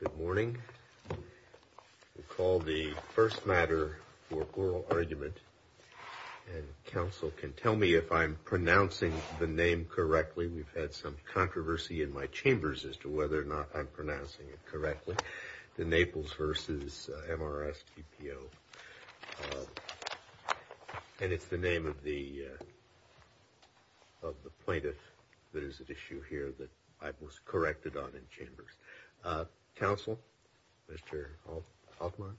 Good morning. We'll call the first matter for oral argument, and counsel can tell me if I'm pronouncing the name correctly. We've had some controversy in my chambers as to whether or not I'm pronouncing it correctly, the Naples v. MRSBPOL. And it's the name of the plaintiff that is at issue here that I was corrected on in chambers. Counsel, Mr. Altman?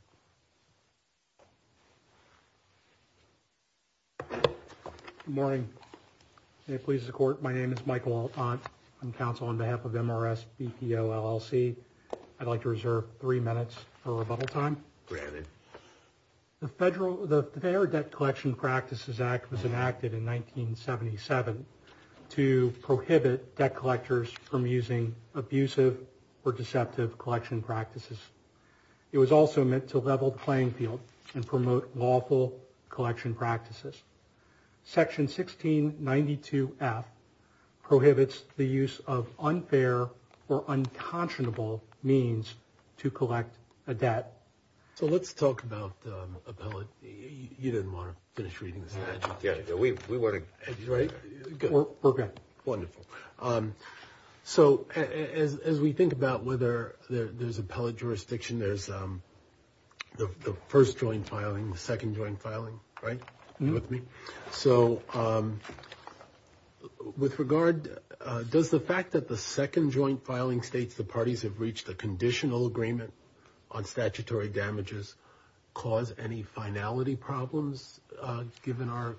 Good morning. May it please the court, my name is Michael Altman. I'm counsel on behalf of MRSBPOLLC. I'd like to reserve three minutes for rebuttal time. The Fair Debt Collection Practices Act was enacted in 1977 to prohibit debt collectors from using abusive or deceptive collection practices. It was also meant to level the playing field and promote lawful collection practices. Section 1692F prohibits the use of unfair or unconscionable means to collect a debt. So let's talk about appellate. You didn't want to finish reading this, did you? We're good. Wonderful. So as we think about whether there's appellate jurisdiction, there's the first joint filing, the second joint filing, right? So with regard, does the fact that the second joint filing states the parties have reached a conditional agreement on statutory damages cause any finality problems, given our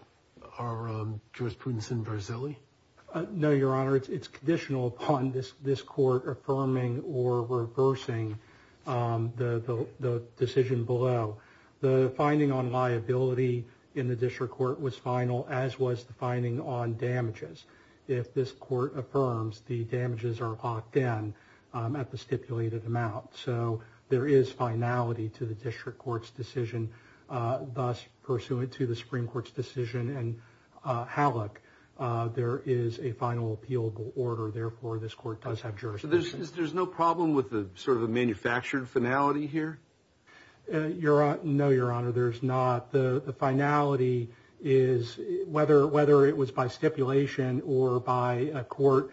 jurisprudence in Verzilli? No, Your Honor, it's conditional upon this court affirming or reversing the decision below. The finding on liability in the district court was final, as was the finding on damages. If this court affirms, the damages are locked in at the stipulated amount. So there is finality to the district court's decision. Thus, pursuant to the Supreme Court's decision and Hallock, there is a final appealable order. Therefore, this court does have jurisdiction. There's no problem with the sort of a manufactured finality here? No, Your Honor, there's not. The finality is whether it was by stipulation or by a court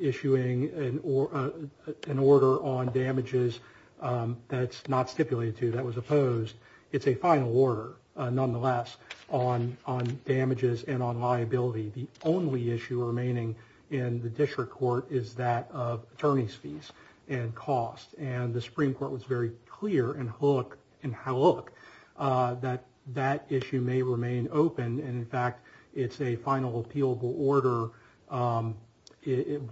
issuing an order on damages that's not stipulated to, that was opposed. It's a final order, nonetheless, on damages and on liability. The only issue remaining in the district court is that of attorney's fees and costs. And the Supreme Court was very clear in Hallock that that issue may remain open. And, in fact, it's a final appealable order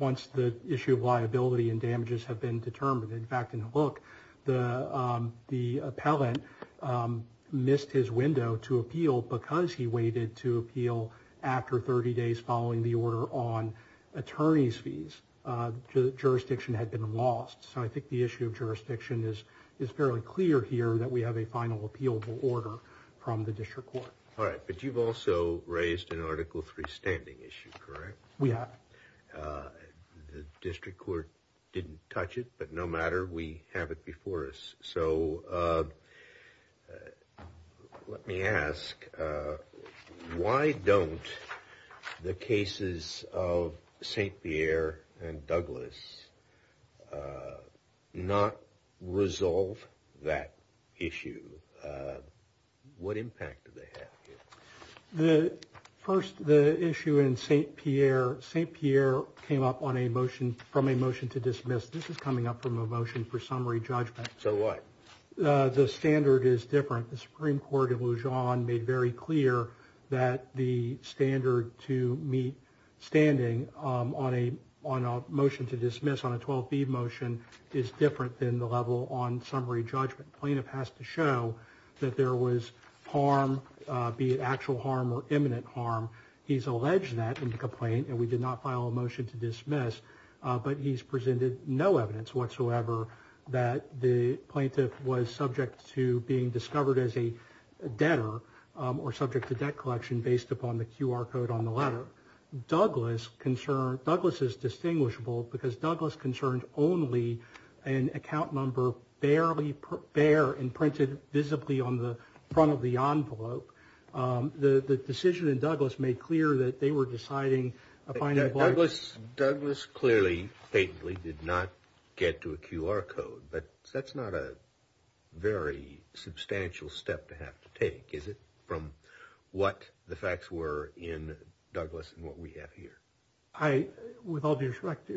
once the issue of liability and damages have been determined. In fact, in Hallock, the appellant missed his window to appeal because he waited to appeal after 30 days following the order on attorney's fees. Jurisdiction had been lost. So I think the issue of jurisdiction is fairly clear here that we have a final appealable order from the district court. All right. But you've also raised an Article III standing issue, correct? We have. The district court didn't touch it, but no matter, we have it before us. So let me ask, why don't the cases of St. Pierre and Douglas not resolve that issue? What impact do they have? First, the issue in St. Pierre, St. Pierre came up on a motion from a motion to dismiss. This is coming up from a motion for summary judgment. So what? The standard is different. The Supreme Court of Lujan made very clear that the standard to meet standing on a motion to dismiss on a 12b motion is different than the level on summary judgment. Plaintiff has to show that there was harm, be it actual harm or imminent harm. He's alleged that in the complaint, and we did not file a motion to dismiss, but he's presented no evidence whatsoever that the plaintiff was subject to being discovered as a debtor or subject to debt collection based upon the QR code on the letter. Douglas is distinguishable because Douglas concerned only an account number barely bare and printed visibly on the front of the envelope. The decision in Douglas made clear that they were deciding upon that. Douglas clearly, faintly did not get to a QR code, but that's not a very substantial step to have to take. Is it from what the facts were in Douglas and what we have here? I, with all due respect,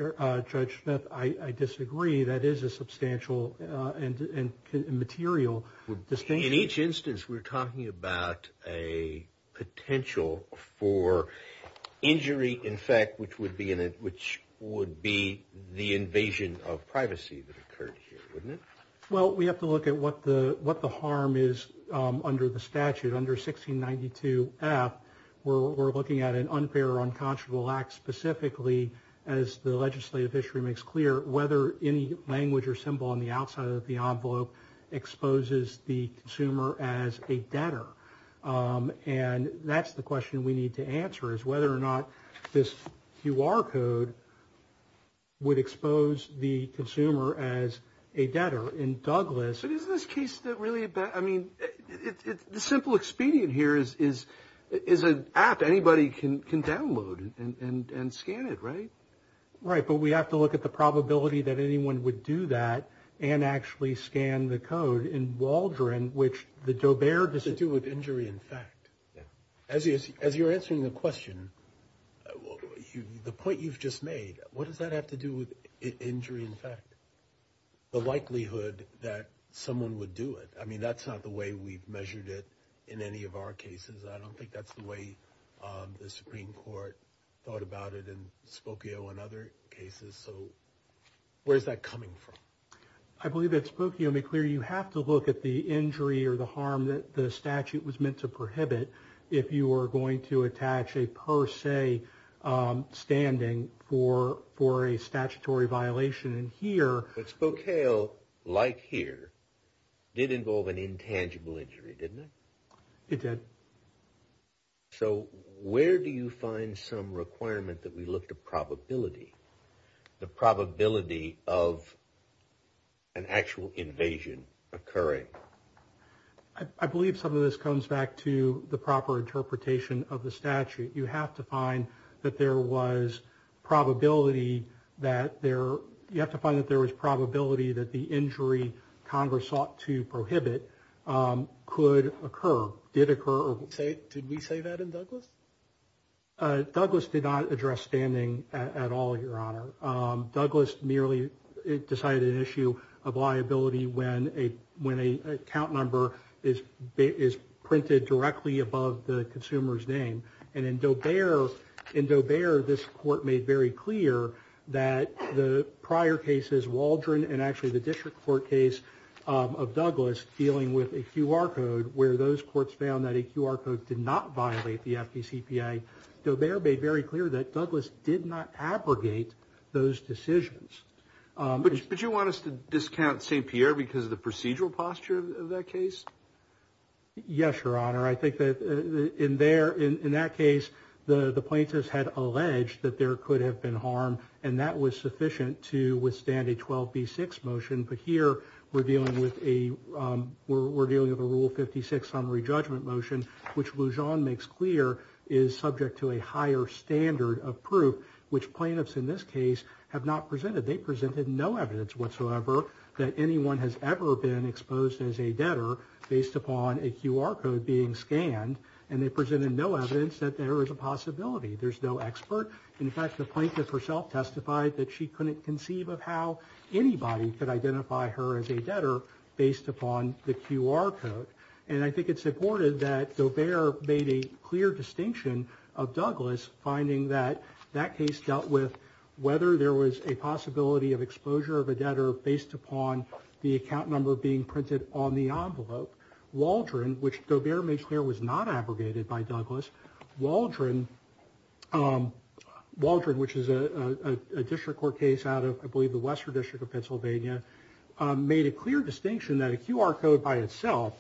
Judge Smith, I disagree. That is a substantial and material distinction. In each instance, we're talking about a potential for injury, in fact, which would be the invasion of privacy that occurred here, wouldn't it? Well, we have to look at what the harm is under the statute. Under 1692 F, we're looking at an unfair or unconscionable act specifically as the legislative history makes clear whether any language or symbol on the outside of the envelope exposes the consumer as a debtor. And that's the question we need to answer is whether or not this QR code would expose the consumer as a debtor in Douglas. But isn't this case that really, I mean, it's the simple expedient here is an app anybody can download and scan it, right? Right, but we have to look at the probability that anyone would do that and actually scan the code in Waldron, which the dobear does it do with injury, in fact. As you're answering the question, the point you've just made, what does that have to do with injury, in fact? The likelihood that someone would do it. I mean, that's not the way we've measured it in any of our cases. I don't think that's the way the Supreme Court thought about it in Spokio and other cases. So where is that coming from? I believe that Spokio made clear you have to look at the injury or the harm that the statute was meant to prohibit if you were going to attach a per se standing for a statutory violation in here. But Spokale, like here, did involve an intangible injury, didn't it? It did. So where do you find some requirement that we look to probability, the probability of an actual invasion occurring? I believe some of this comes back to the proper interpretation of the statute. You have to find that there was probability that the injury Congress sought to prohibit could occur, did occur. Did we say that in Douglas? Douglas did not address standing at all, Your Honor. Douglas merely decided an issue of liability when a count number is printed directly above the consumer's name. And in Dobear, this court made very clear that the prior cases, Waldron and actually the district court case of Douglas, dealing with a QR code where those courts found that a QR code did not violate the FDCPA. Dobear made very clear that Douglas did not abrogate those decisions. But you want us to discount St. Pierre because of the procedural posture of that case? Yes, Your Honor. I think that in there, in that case, the plaintiffs had alleged that there could have been harm, and that was sufficient to withstand a 12B6 motion. But here we're dealing with a Rule 56 summary judgment motion, which Lujan makes clear is subject to a higher standard of proof, which plaintiffs in this case have not presented. They presented no evidence whatsoever that anyone has ever been exposed as a debtor based upon a QR code being scanned. And they presented no evidence that there is a possibility. There's no expert. In fact, the plaintiff herself testified that she couldn't conceive of how anybody could identify her as a debtor based upon the QR code. And I think it's important that Dobear made a clear distinction of Douglas, finding that that case dealt with whether there was a possibility of exposure of a debtor based upon the account number being printed on the envelope. Waldron, which Dobear made clear was not abrogated by Douglas. Waldron, which is a district court case out of, I believe, the Western District of Pennsylvania, made a clear distinction that a QR code by itself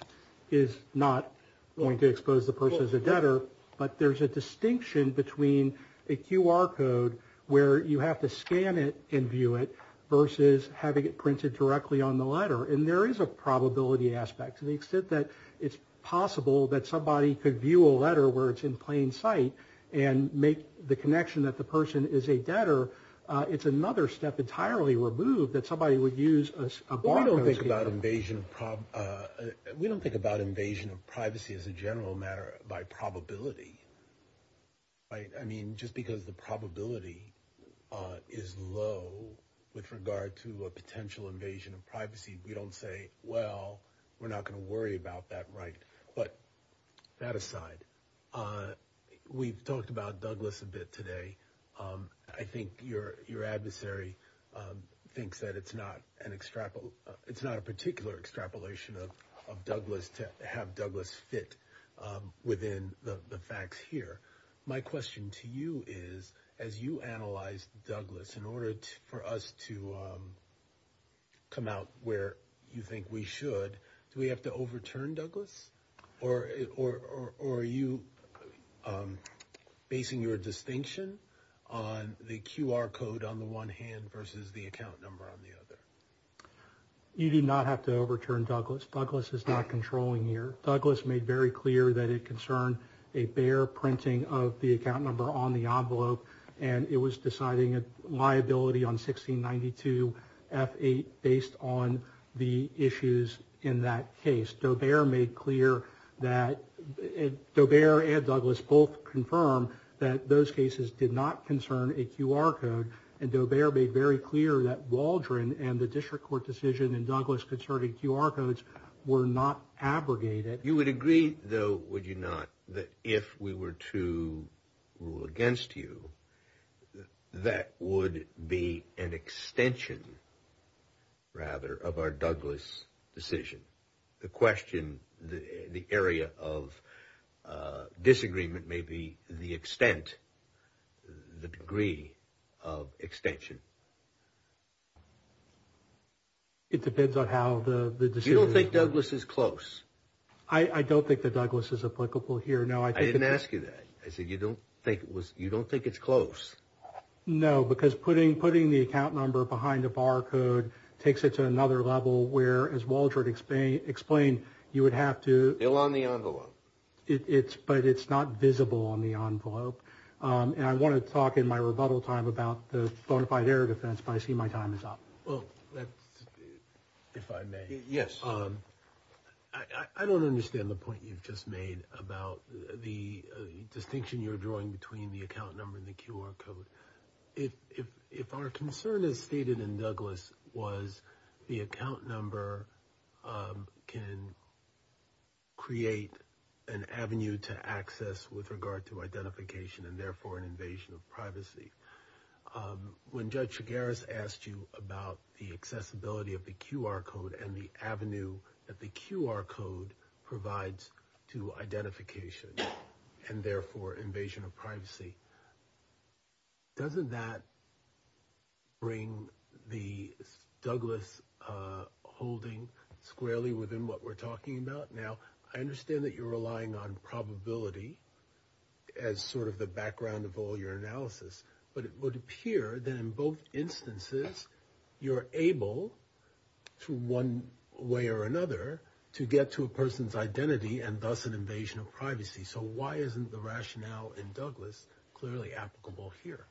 is not going to expose the person as a debtor. But there's a distinction between a QR code where you have to scan it and view it versus having it printed directly on the letter. And there is a probability aspect to the extent that it's possible that somebody could view a letter where it's in plain sight and make the connection that the person is a debtor. It's another step entirely removed that somebody would use a barcode scanner. We don't think about invasion of privacy as a general matter by probability. I mean, just because the probability is low with regard to a potential invasion of privacy, we don't say, well, we're not going to worry about that. Right. But that aside, we've talked about Douglas a bit today. I think your your adversary thinks that it's not an extra. It's not a particular extrapolation of Douglas to have Douglas fit within the facts here. My question to you is, as you analyze Douglas in order for us to come out where you think we should, do we have to overturn Douglas? Or are you basing your distinction on the QR code on the one hand versus the account number on the other? You do not have to overturn Douglas. Douglas is not controlling here. Douglas made very clear that it concerned a bare printing of the account number on the envelope, and it was deciding a liability on 1692 F8 based on the issues in that case. Daubert made clear that Daubert and Douglas both confirm that those cases did not concern a QR code. And Daubert made very clear that Waldron and the district court decision and Douglas concerted QR codes were not abrogated. You would agree, though, would you not that if we were to rule against you, that would be an extension? Rather of our Douglas decision, the question, the area of disagreement may be the extent, the degree of extension. It depends on how the you don't think Douglas is close. I don't think that Douglas is applicable here. No, I didn't ask you that. I said you don't think it was you don't think it's close. No, because putting putting the account number behind a barcode takes it to another level where, as Waldron explained, you would have to fill on the envelope. It's but it's not visible on the envelope. And I want to talk in my rebuttal time about the bona fide air defense. But I see my time is up. Well, if I may. Yes. I don't understand the point you've just made about the distinction you're drawing between the account number and the QR code. If if if our concern is stated in Douglas was the account number can. Create an avenue to access with regard to identification and therefore an invasion of privacy. When Judge Garis asked you about the accessibility of the QR code and the avenue that the QR code provides to identification and therefore invasion of privacy. Doesn't that. Bring the Douglas holding squarely within what we're talking about. Now, I understand that you're relying on probability as sort of the background of all your analysis. But it would appear that in both instances, you're able to one way or another to get to a person's identity and thus an invasion of privacy. So why isn't the rationale in Douglas clearly applicable here?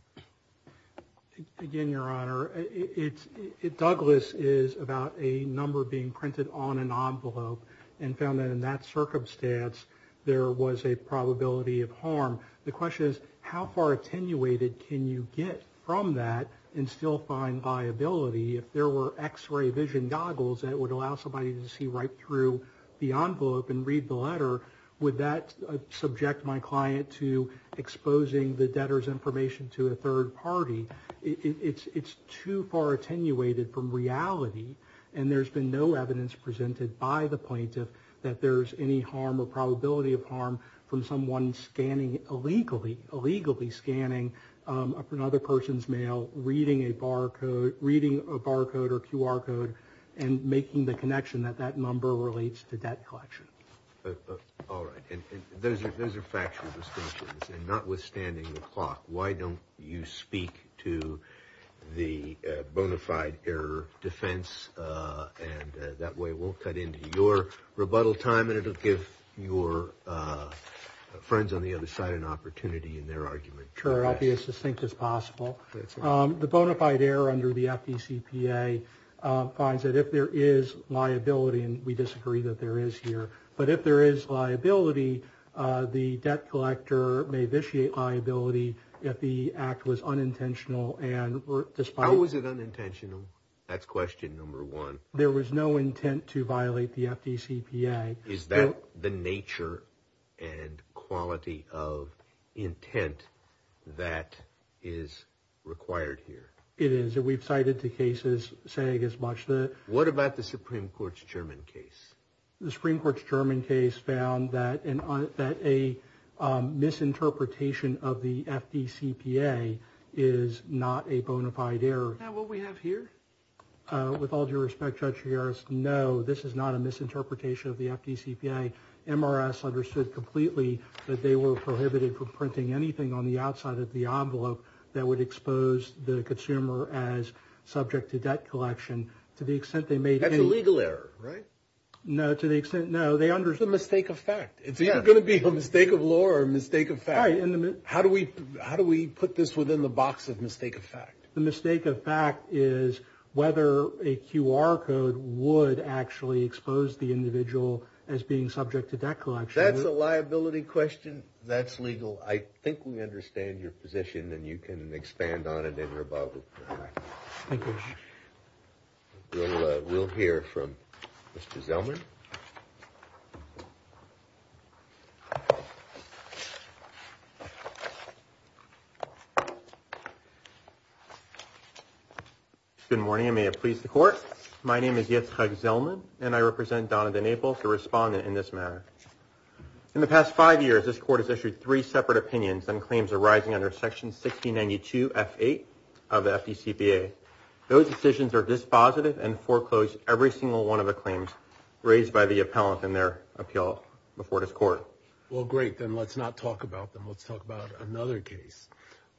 Again, Your Honor. It's it. Douglas is about a number being printed on an envelope and found that in that circumstance, there was a probability of harm. The question is, how far attenuated can you get from that and still find viability? If there were X ray vision goggles that would allow somebody to see right through the envelope and read the letter. Would that subject my client to exposing the debtor's information to a third party? It's too far attenuated from reality. And there's been no evidence presented by the plaintiff that there's any harm or probability of harm from someone scanning illegally, illegally scanning another person's mail, reading a bar code, reading a bar code or QR code and making the connection that that number relates to debt collection. All right. And those are those are factual distinctions. And notwithstanding the clock, why don't you speak to the bona fide error defense? And that way we'll cut into your rebuttal time and it'll give your friends on the other side an opportunity in their argument. Sure. I'll be as succinct as possible. The bona fide error under the FDCPA finds that if there is liability and we disagree that there is here, but if there is liability, the debt collector may vitiate liability if the act was unintentional. And how was it unintentional? That's question number one. There was no intent to violate the FDCPA. Is that the nature and quality of intent that is required here? It is. And we've cited two cases saying as much. What about the Supreme Court's German case? The Supreme Court's German case found that that a misinterpretation of the FDCPA is not a bona fide error. Now, what we have here? With all due respect, Judge Gerritsen, no, this is not a misinterpretation of the FDCPA. MRS understood completely that they were prohibited from printing anything on the outside of the envelope that would expose the consumer as subject to debt collection. To the extent they made any... That's a legal error, right? No, to the extent, no, they understood... It's a mistake of fact. Yeah. It's either going to be a mistake of law or a mistake of fact. How do we put this within the box of mistake of fact? The mistake of fact is whether a QR code would actually expose the individual as being subject to debt collection. That's a liability question. That's legal. I think we understand your position and you can expand on it in your Bible. Thank you. We'll hear from Mr. Zellman. Good morning. May it please the court. My name is Yitzhak Zellman and I represent Donovan Naples, a respondent in this matter. In the past five years, this court has issued three separate opinions and claims arising under section 1692 F8 of the FDCPA. Those decisions are dispositive and foreclosed every single one of the claims raised by the appellant in their appeal before this court. Well, great. Then let's not talk about them. Let's talk about another case.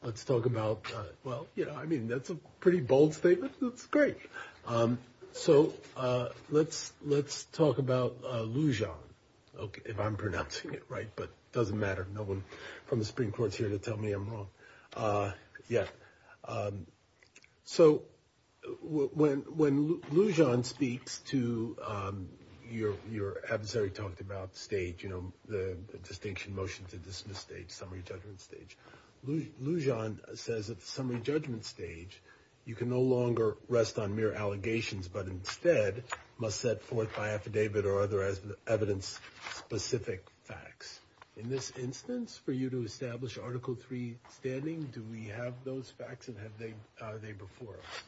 Let's talk about. Well, you know, I mean, that's a pretty bold statement. That's great. So let's let's talk about Lujan. OK, if I'm pronouncing it right. But it doesn't matter. No one from the Supreme Court's here to tell me I'm wrong. Yeah. So when when Lujan speaks to your your adversary talked about state, you know, the distinction motion to dismiss state summary judgment stage. Lujan says it's summary judgment stage. You can no longer rest on mere allegations, but instead must set forth by affidavit or other evidence specific facts. In this instance, for you to establish Article three standing, do we have those facts and have they before us?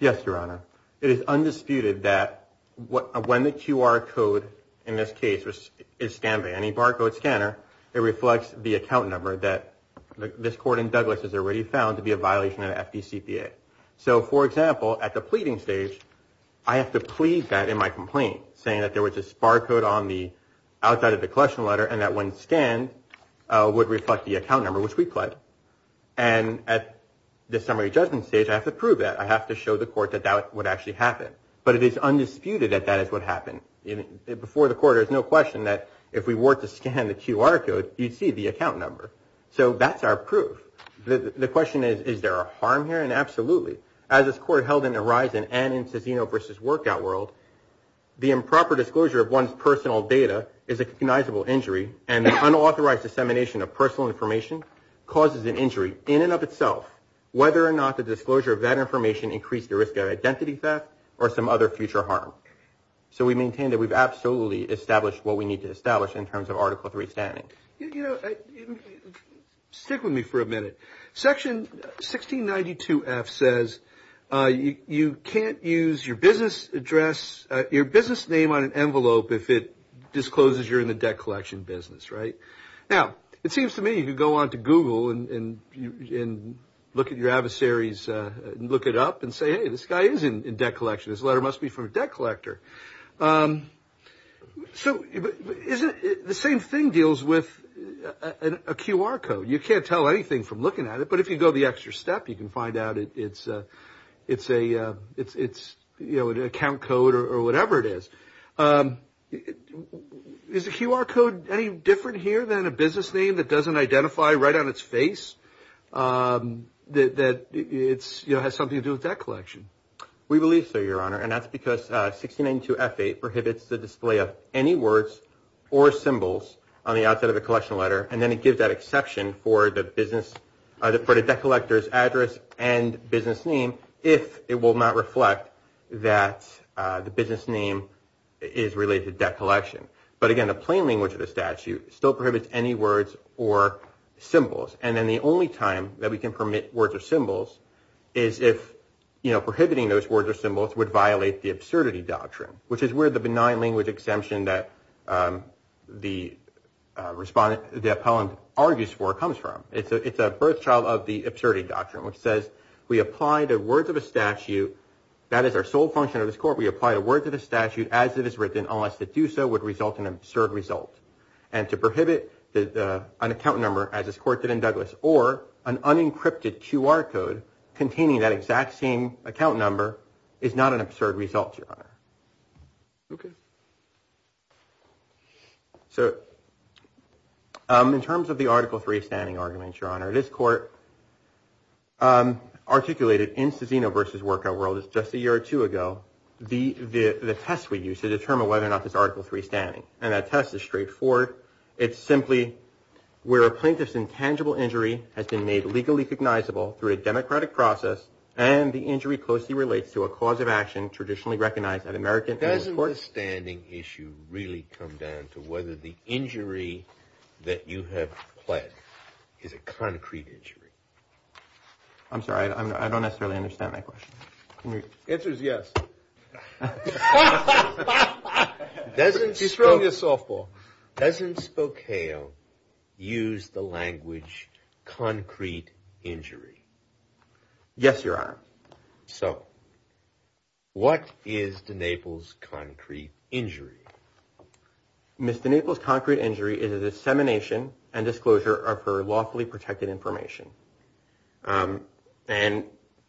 Yes, Your Honor. It is undisputed that when the QR code in this case is scanned by any barcode scanner, it reflects the account number that this court in Douglas has already found to be a violation of the FDCPA. So, for example, at the pleading stage, I have to plead that in my complaint, saying that there was a barcode on the outside of the question letter and that one scan would reflect the account number which we pled. And at the summary judgment stage, I have to prove that I have to show the court that that would actually happen. But it is undisputed that that is what happened before the court. There's no question that if we were to scan the QR code, you'd see the account number. So that's our proof. The question is, is there a harm here? And absolutely. As this court held in Arisen and in Cicino v. Workout World, the improper disclosure of one's personal data is a recognizable injury, and the unauthorized dissemination of personal information causes an injury in and of itself, whether or not the disclosure of that information increased the risk of identity theft or some other future harm. So we maintain that we've absolutely established what we need to establish in terms of Article three standing. You know, stick with me for a minute. Section 1692 F says you can't use your business address, your business name on an envelope if it discloses you're in the debt collection business, right? Now, it seems to me you could go on to Google and look at your adversaries, look it up and say, hey, this guy is in debt collection. This letter must be from a debt collector. So the same thing deals with a QR code. You can't tell anything from looking at it, but if you go the extra step, you can find out it's an account code or whatever it is. Is the QR code any different here than a business name that doesn't identify right on its face, that it has something to do with debt collection? We believe so, Your Honor. And that's because 1692 F8 prohibits the display of any words or symbols on the outset of the collection letter. And then it gives that exception for the business, for the debt collector's address and business name, if it will not reflect that the business name is related to debt collection. But again, the plain language of the statute still prohibits any words or symbols. And then the only time that we can permit words or symbols is if, you know, prohibiting those words or symbols would violate the absurdity doctrine, which is where the benign language exemption that the respondent, the appellant argues for comes from. It's a it's a birth child of the absurdity doctrine, which says we apply the words of a statute. That is our sole function of this court. We apply a word to the statute as it is written, unless to do so would result in an absurd result. And to prohibit an account number, as this court did in Douglas or an unencrypted QR code containing that exact same account number is not an absurd result. So in terms of the Article three standing arguments, Your Honor, this court articulated in Cezino versus workout world is just a year or two ago. The the test we use to determine whether or not this article three standing and that test is straightforward. It's simply where a plaintiff's intangible injury has been made legally recognizable through a democratic process and the injury closely relates to a cause of action traditionally recognized at American court standing issue. Really come down to whether the injury that you have pled is a concrete injury. I'm sorry. I don't necessarily understand my question. Answer is yes. Doesn't destroy your softball. Doesn't Spokane use the language concrete injury? Yes, Your Honor. So what is the Naples concrete injury, Mr. Naples? Concrete injury is a dissemination and disclosure of her lawfully protected information. And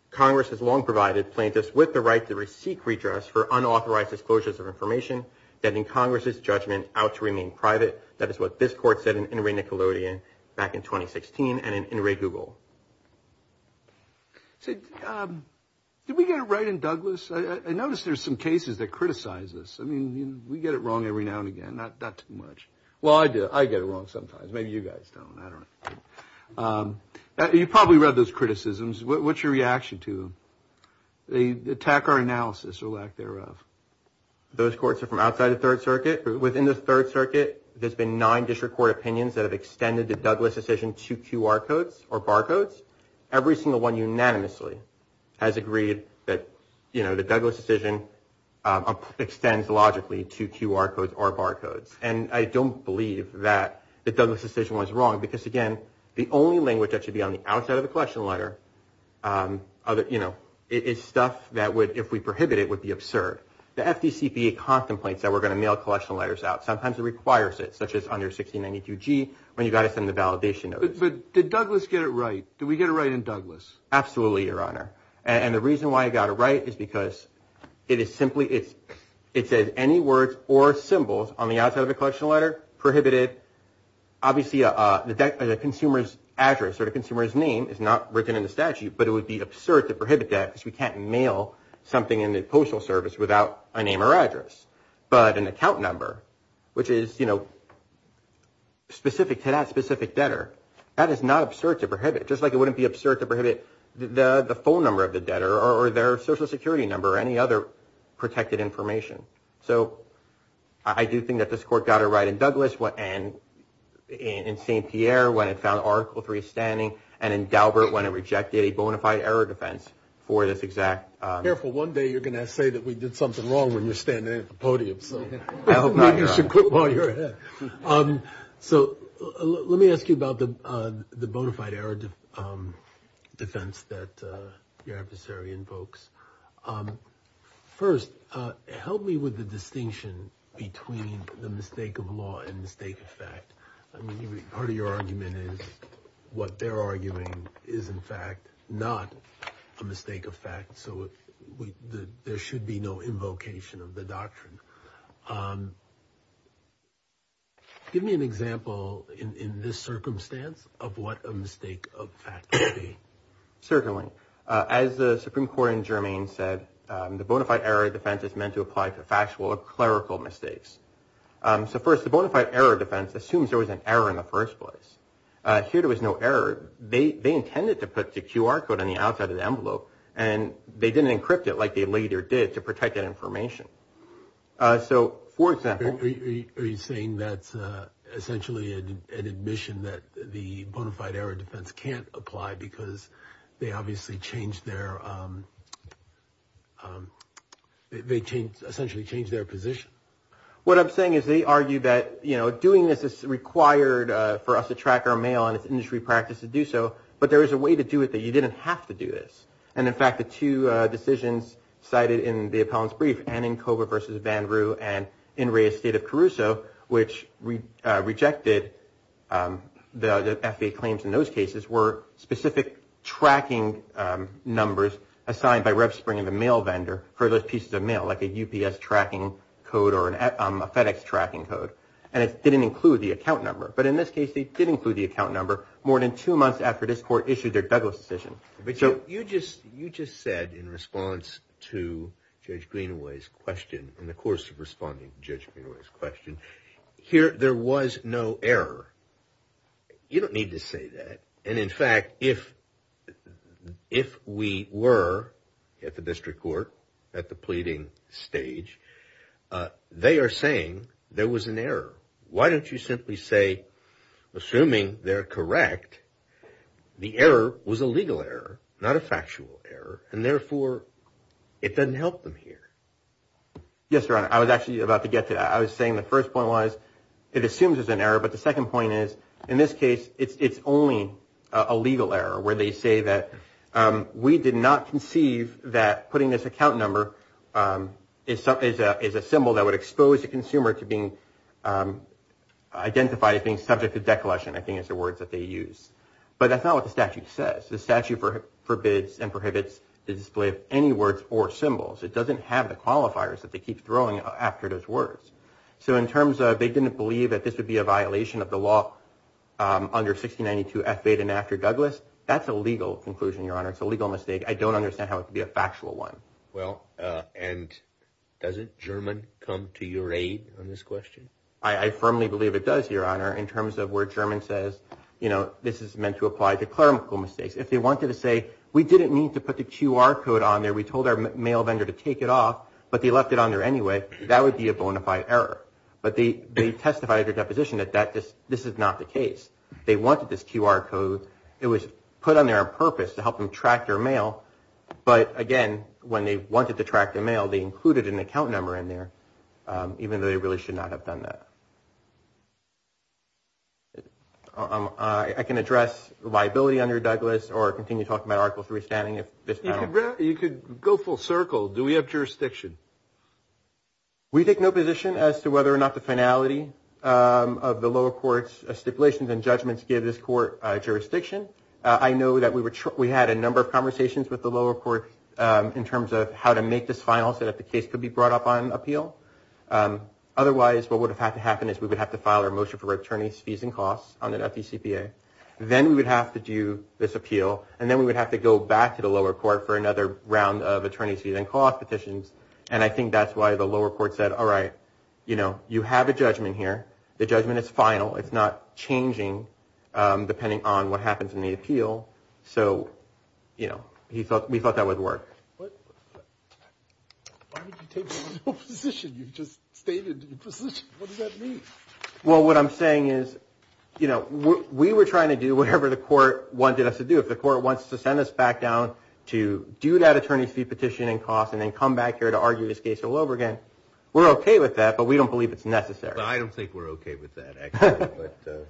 Congress has long provided plaintiffs with the right to receive redress for unauthorized disclosures of information. That in Congress's judgment out to remain private. That is what this court said in a Nickelodeon back in 2016. And in a Google said, did we get it right in Douglas? I noticed there's some cases that criticize this. I mean, we get it wrong every now and again. Not that much. Well, I do. I get it wrong sometimes. Maybe you guys don't. You probably read those criticisms. What's your reaction to the attack or analysis or lack thereof? Those courts are from outside the Third Circuit within the Third Circuit. There's been nine district court opinions that have extended the Douglas decision to QR codes or barcodes. Every single one unanimously has agreed that, you know, the Douglas decision extends logically to QR codes or barcodes. And I don't believe that the Douglas decision was wrong because, again, the only language that should be on the outside of the question letter. You know, it's stuff that would, if we prohibit it, would be absurd. The FTC contemplates that we're going to mail collection letters out. Sometimes it requires it, such as under 1692 G, when you've got to send the validation. But did Douglas get it right? Do we get it right in Douglas? Absolutely, Your Honor. And the reason why I got it right is because it is simply it's it says any words or symbols on the outside of the question letter prohibited. Obviously, the consumer's address or the consumer's name is not written in the statute. But it would be absurd to prohibit that because we can't mail something in the Postal Service without a name or address. But an account number, which is, you know, specific to that specific debtor, that is not absurd to prohibit. Just like it wouldn't be absurd to prohibit the full number of the debtor or their Social Security number or any other protected information. So I do think that this court got it right in Douglas and in St. Pierre when it found Article 3 standing and in Daubert when it rejected a bona fide error defense for this exact. Careful, one day you're going to say that we did something wrong when you're standing at the podium, so you should quit while you're ahead. So let me ask you about the bona fide error defense that your adversary invokes. First, help me with the distinction between the mistake of law and mistake of fact. I mean, part of your argument is what they're arguing is, in fact, not a mistake of fact. So there should be no invocation of the doctrine. Give me an example in this circumstance of what a mistake of fact. Certainly, as the Supreme Court in Germany said, the bona fide error defense is meant to apply to factual or clerical mistakes. So first, the bona fide error defense assumes there was an error in the first place. It was no error. They intended to put the QR code on the outside of the envelope and they didn't encrypt it like they later did to protect that information. So, for example. Are you saying that's essentially an admission that the bona fide error defense can't apply because they obviously changed their position? What I'm saying is they argue that doing this is required for us to track our mail and it's industry practice to do so, but there is a way to do it that you didn't have to do this. And in fact, the two decisions cited in the appellant's brief, Annenkober versus Van Roo and In Re's State of Caruso, which rejected the FAA claims in those cases, were specific tracking numbers assigned by Rebspring and the mail vendor for those pieces of mail, like a UPS tracking code or a FedEx tracking code. And it didn't include the account number. But in this case, they did include the account number more than two months after this court issued their Douglas decision. But you just said in response to Judge Greenaway's question, in the course of responding to Judge Greenaway's question, there was no error. You don't need to say that. And in fact, if we were at the district court at the pleading stage, they are saying there was an error. Why don't you simply say, assuming they're correct, the error was a legal error, not a factual error, and therefore it doesn't help them here. Yes, Your Honor. I was actually about to get to that. I was saying the first point was it assumes there's an error, but the second point is, in this case, it's only a legal error where they say that we did not conceive that putting this account number is a symbol that would expose the consumer to being identified as being subject to declension, I think, is the words that they use. But that's not what the statute says. The statute forbids and prohibits the display of any words or symbols. It doesn't have the qualifiers that they keep throwing after those words. So in terms of they didn't believe that this would be a violation of the law under 1692 F. 8 and after Douglas, that's a legal conclusion, Your Honor. It's a legal mistake. I don't understand how it could be a factual one. Well, and doesn't German come to your aid on this question? I firmly believe it does, Your Honor, in terms of where German says, you know, this is meant to apply to clerical mistakes. If they wanted to say we didn't need to put the QR code on there, we told our mail vendor to take it off, but they left it on there anyway, that would be a bona fide error. But they testified at their deposition that this is not the case. They wanted this QR code. It was put on there on purpose to help them track their mail. But, again, when they wanted to track their mail, they included an account number in there, even though they really should not have done that. I can address liability under Douglas or continue talking about Article III standing. You could go full circle. Do we have jurisdiction? We take no position as to whether or not the finality of the lower court's stipulations and judgments give this court jurisdiction. I know that we had a number of conversations with the lower court in terms of how to make this final so that the case could be brought up on appeal. Otherwise, what would have had to happen is we would have to file our motion for attorney's fees and costs on an FDCPA. Then we would have to do this appeal, and then we would have to go back to the lower court for another round of attorney's fees and cost petitions. And I think that's why the lower court said, all right, you know, you have a judgment here. The judgment is final. It's not changing depending on what happens in the appeal. So, you know, we thought that would work. Well, what I'm saying is, you know, we were trying to do whatever the court wanted us to do. If the court wants to send us back down to do that attorney's fee petition and cost and then come back here to argue this case all over again, we're okay with that, but we don't believe it's necessary. Well, I don't think we're okay with that, actually.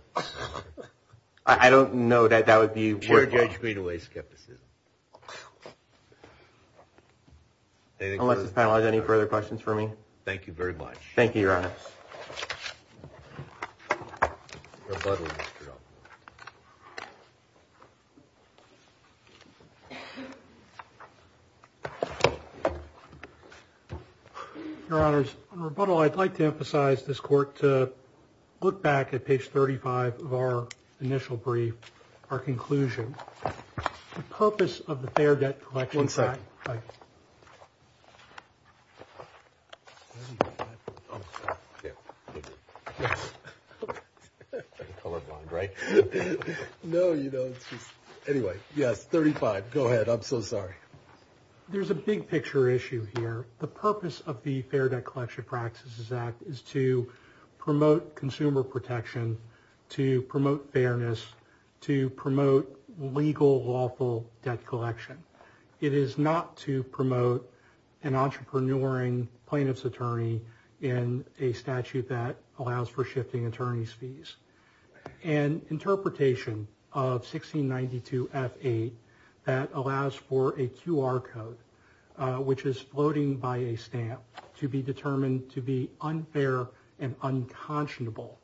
I don't know that that would be worthwhile. You're judging me to waste skepticism. Unless this panel has any further questions for me. Thank you very much. Thank you, Your Honors. Your Honors, on rebuttal, I'd like to emphasize this court to look back at page 35 of our initial brief, our conclusion, the purpose of the Fair Debt Collection Act. One second. I'm colorblind, right? No, you don't. Anyway, yes, 35. Go ahead. I'm so sorry. There's a big picture issue here. The purpose of the Fair Debt Collection Practices Act is to promote consumer protection, to promote fairness, to promote legal, lawful debt collection. It is not to promote an entrepreneuring plaintiff's attorney in a statute that allows for shifting attorney's fees. An interpretation of 1692F8 that allows for a QR code, which is floating by a stamp, to be determined to be unfair and unconscionable.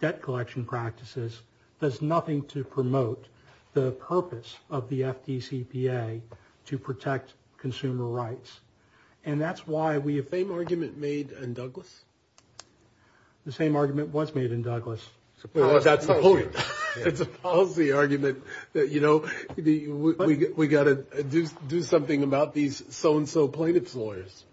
Debt collection practices does nothing to promote the purpose of the FDCPA to protect consumer rights. And that's why we have – Same argument made in Douglas? The same argument was made in Douglas. That's the point. It's a policy argument that, you know, we got to do something about these so-and-so plaintiff's lawyers.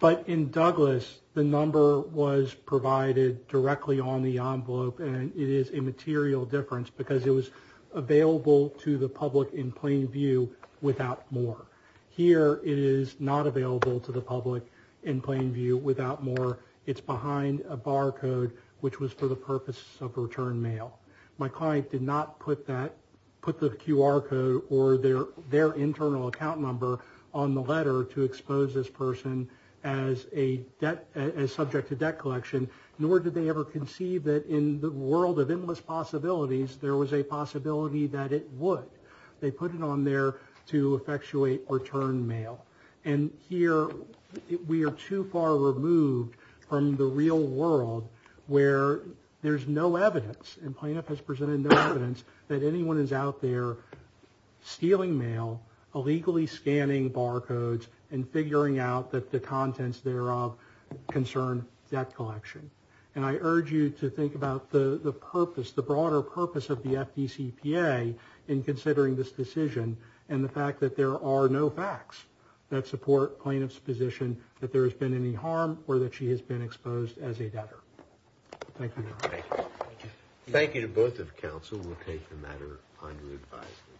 But in Douglas, the number was provided directly on the envelope, and it is a material difference because it was available to the public in plain view without more. Here it is not available to the public in plain view without more. It's behind a barcode, which was for the purpose of return mail. My client did not put that – put the QR code or their internal account number on the letter to expose this person as a debt – as subject to debt collection, nor did they ever conceive that in the world of endless possibilities, there was a possibility that it would. They put it on there to effectuate return mail. And here we are too far removed from the real world where there's no evidence, and plaintiff has presented no evidence that anyone is out there stealing mail, illegally scanning barcodes, and figuring out that the contents thereof concern debt collection. And I urge you to think about the purpose, the broader purpose of the FDCPA in considering this decision and the fact that there are no facts that support plaintiff's position that there has been any harm or that she has been exposed as a debtor. Thank you. Thank you. Thank you to both of the counsel. We'll take the matter under advisory.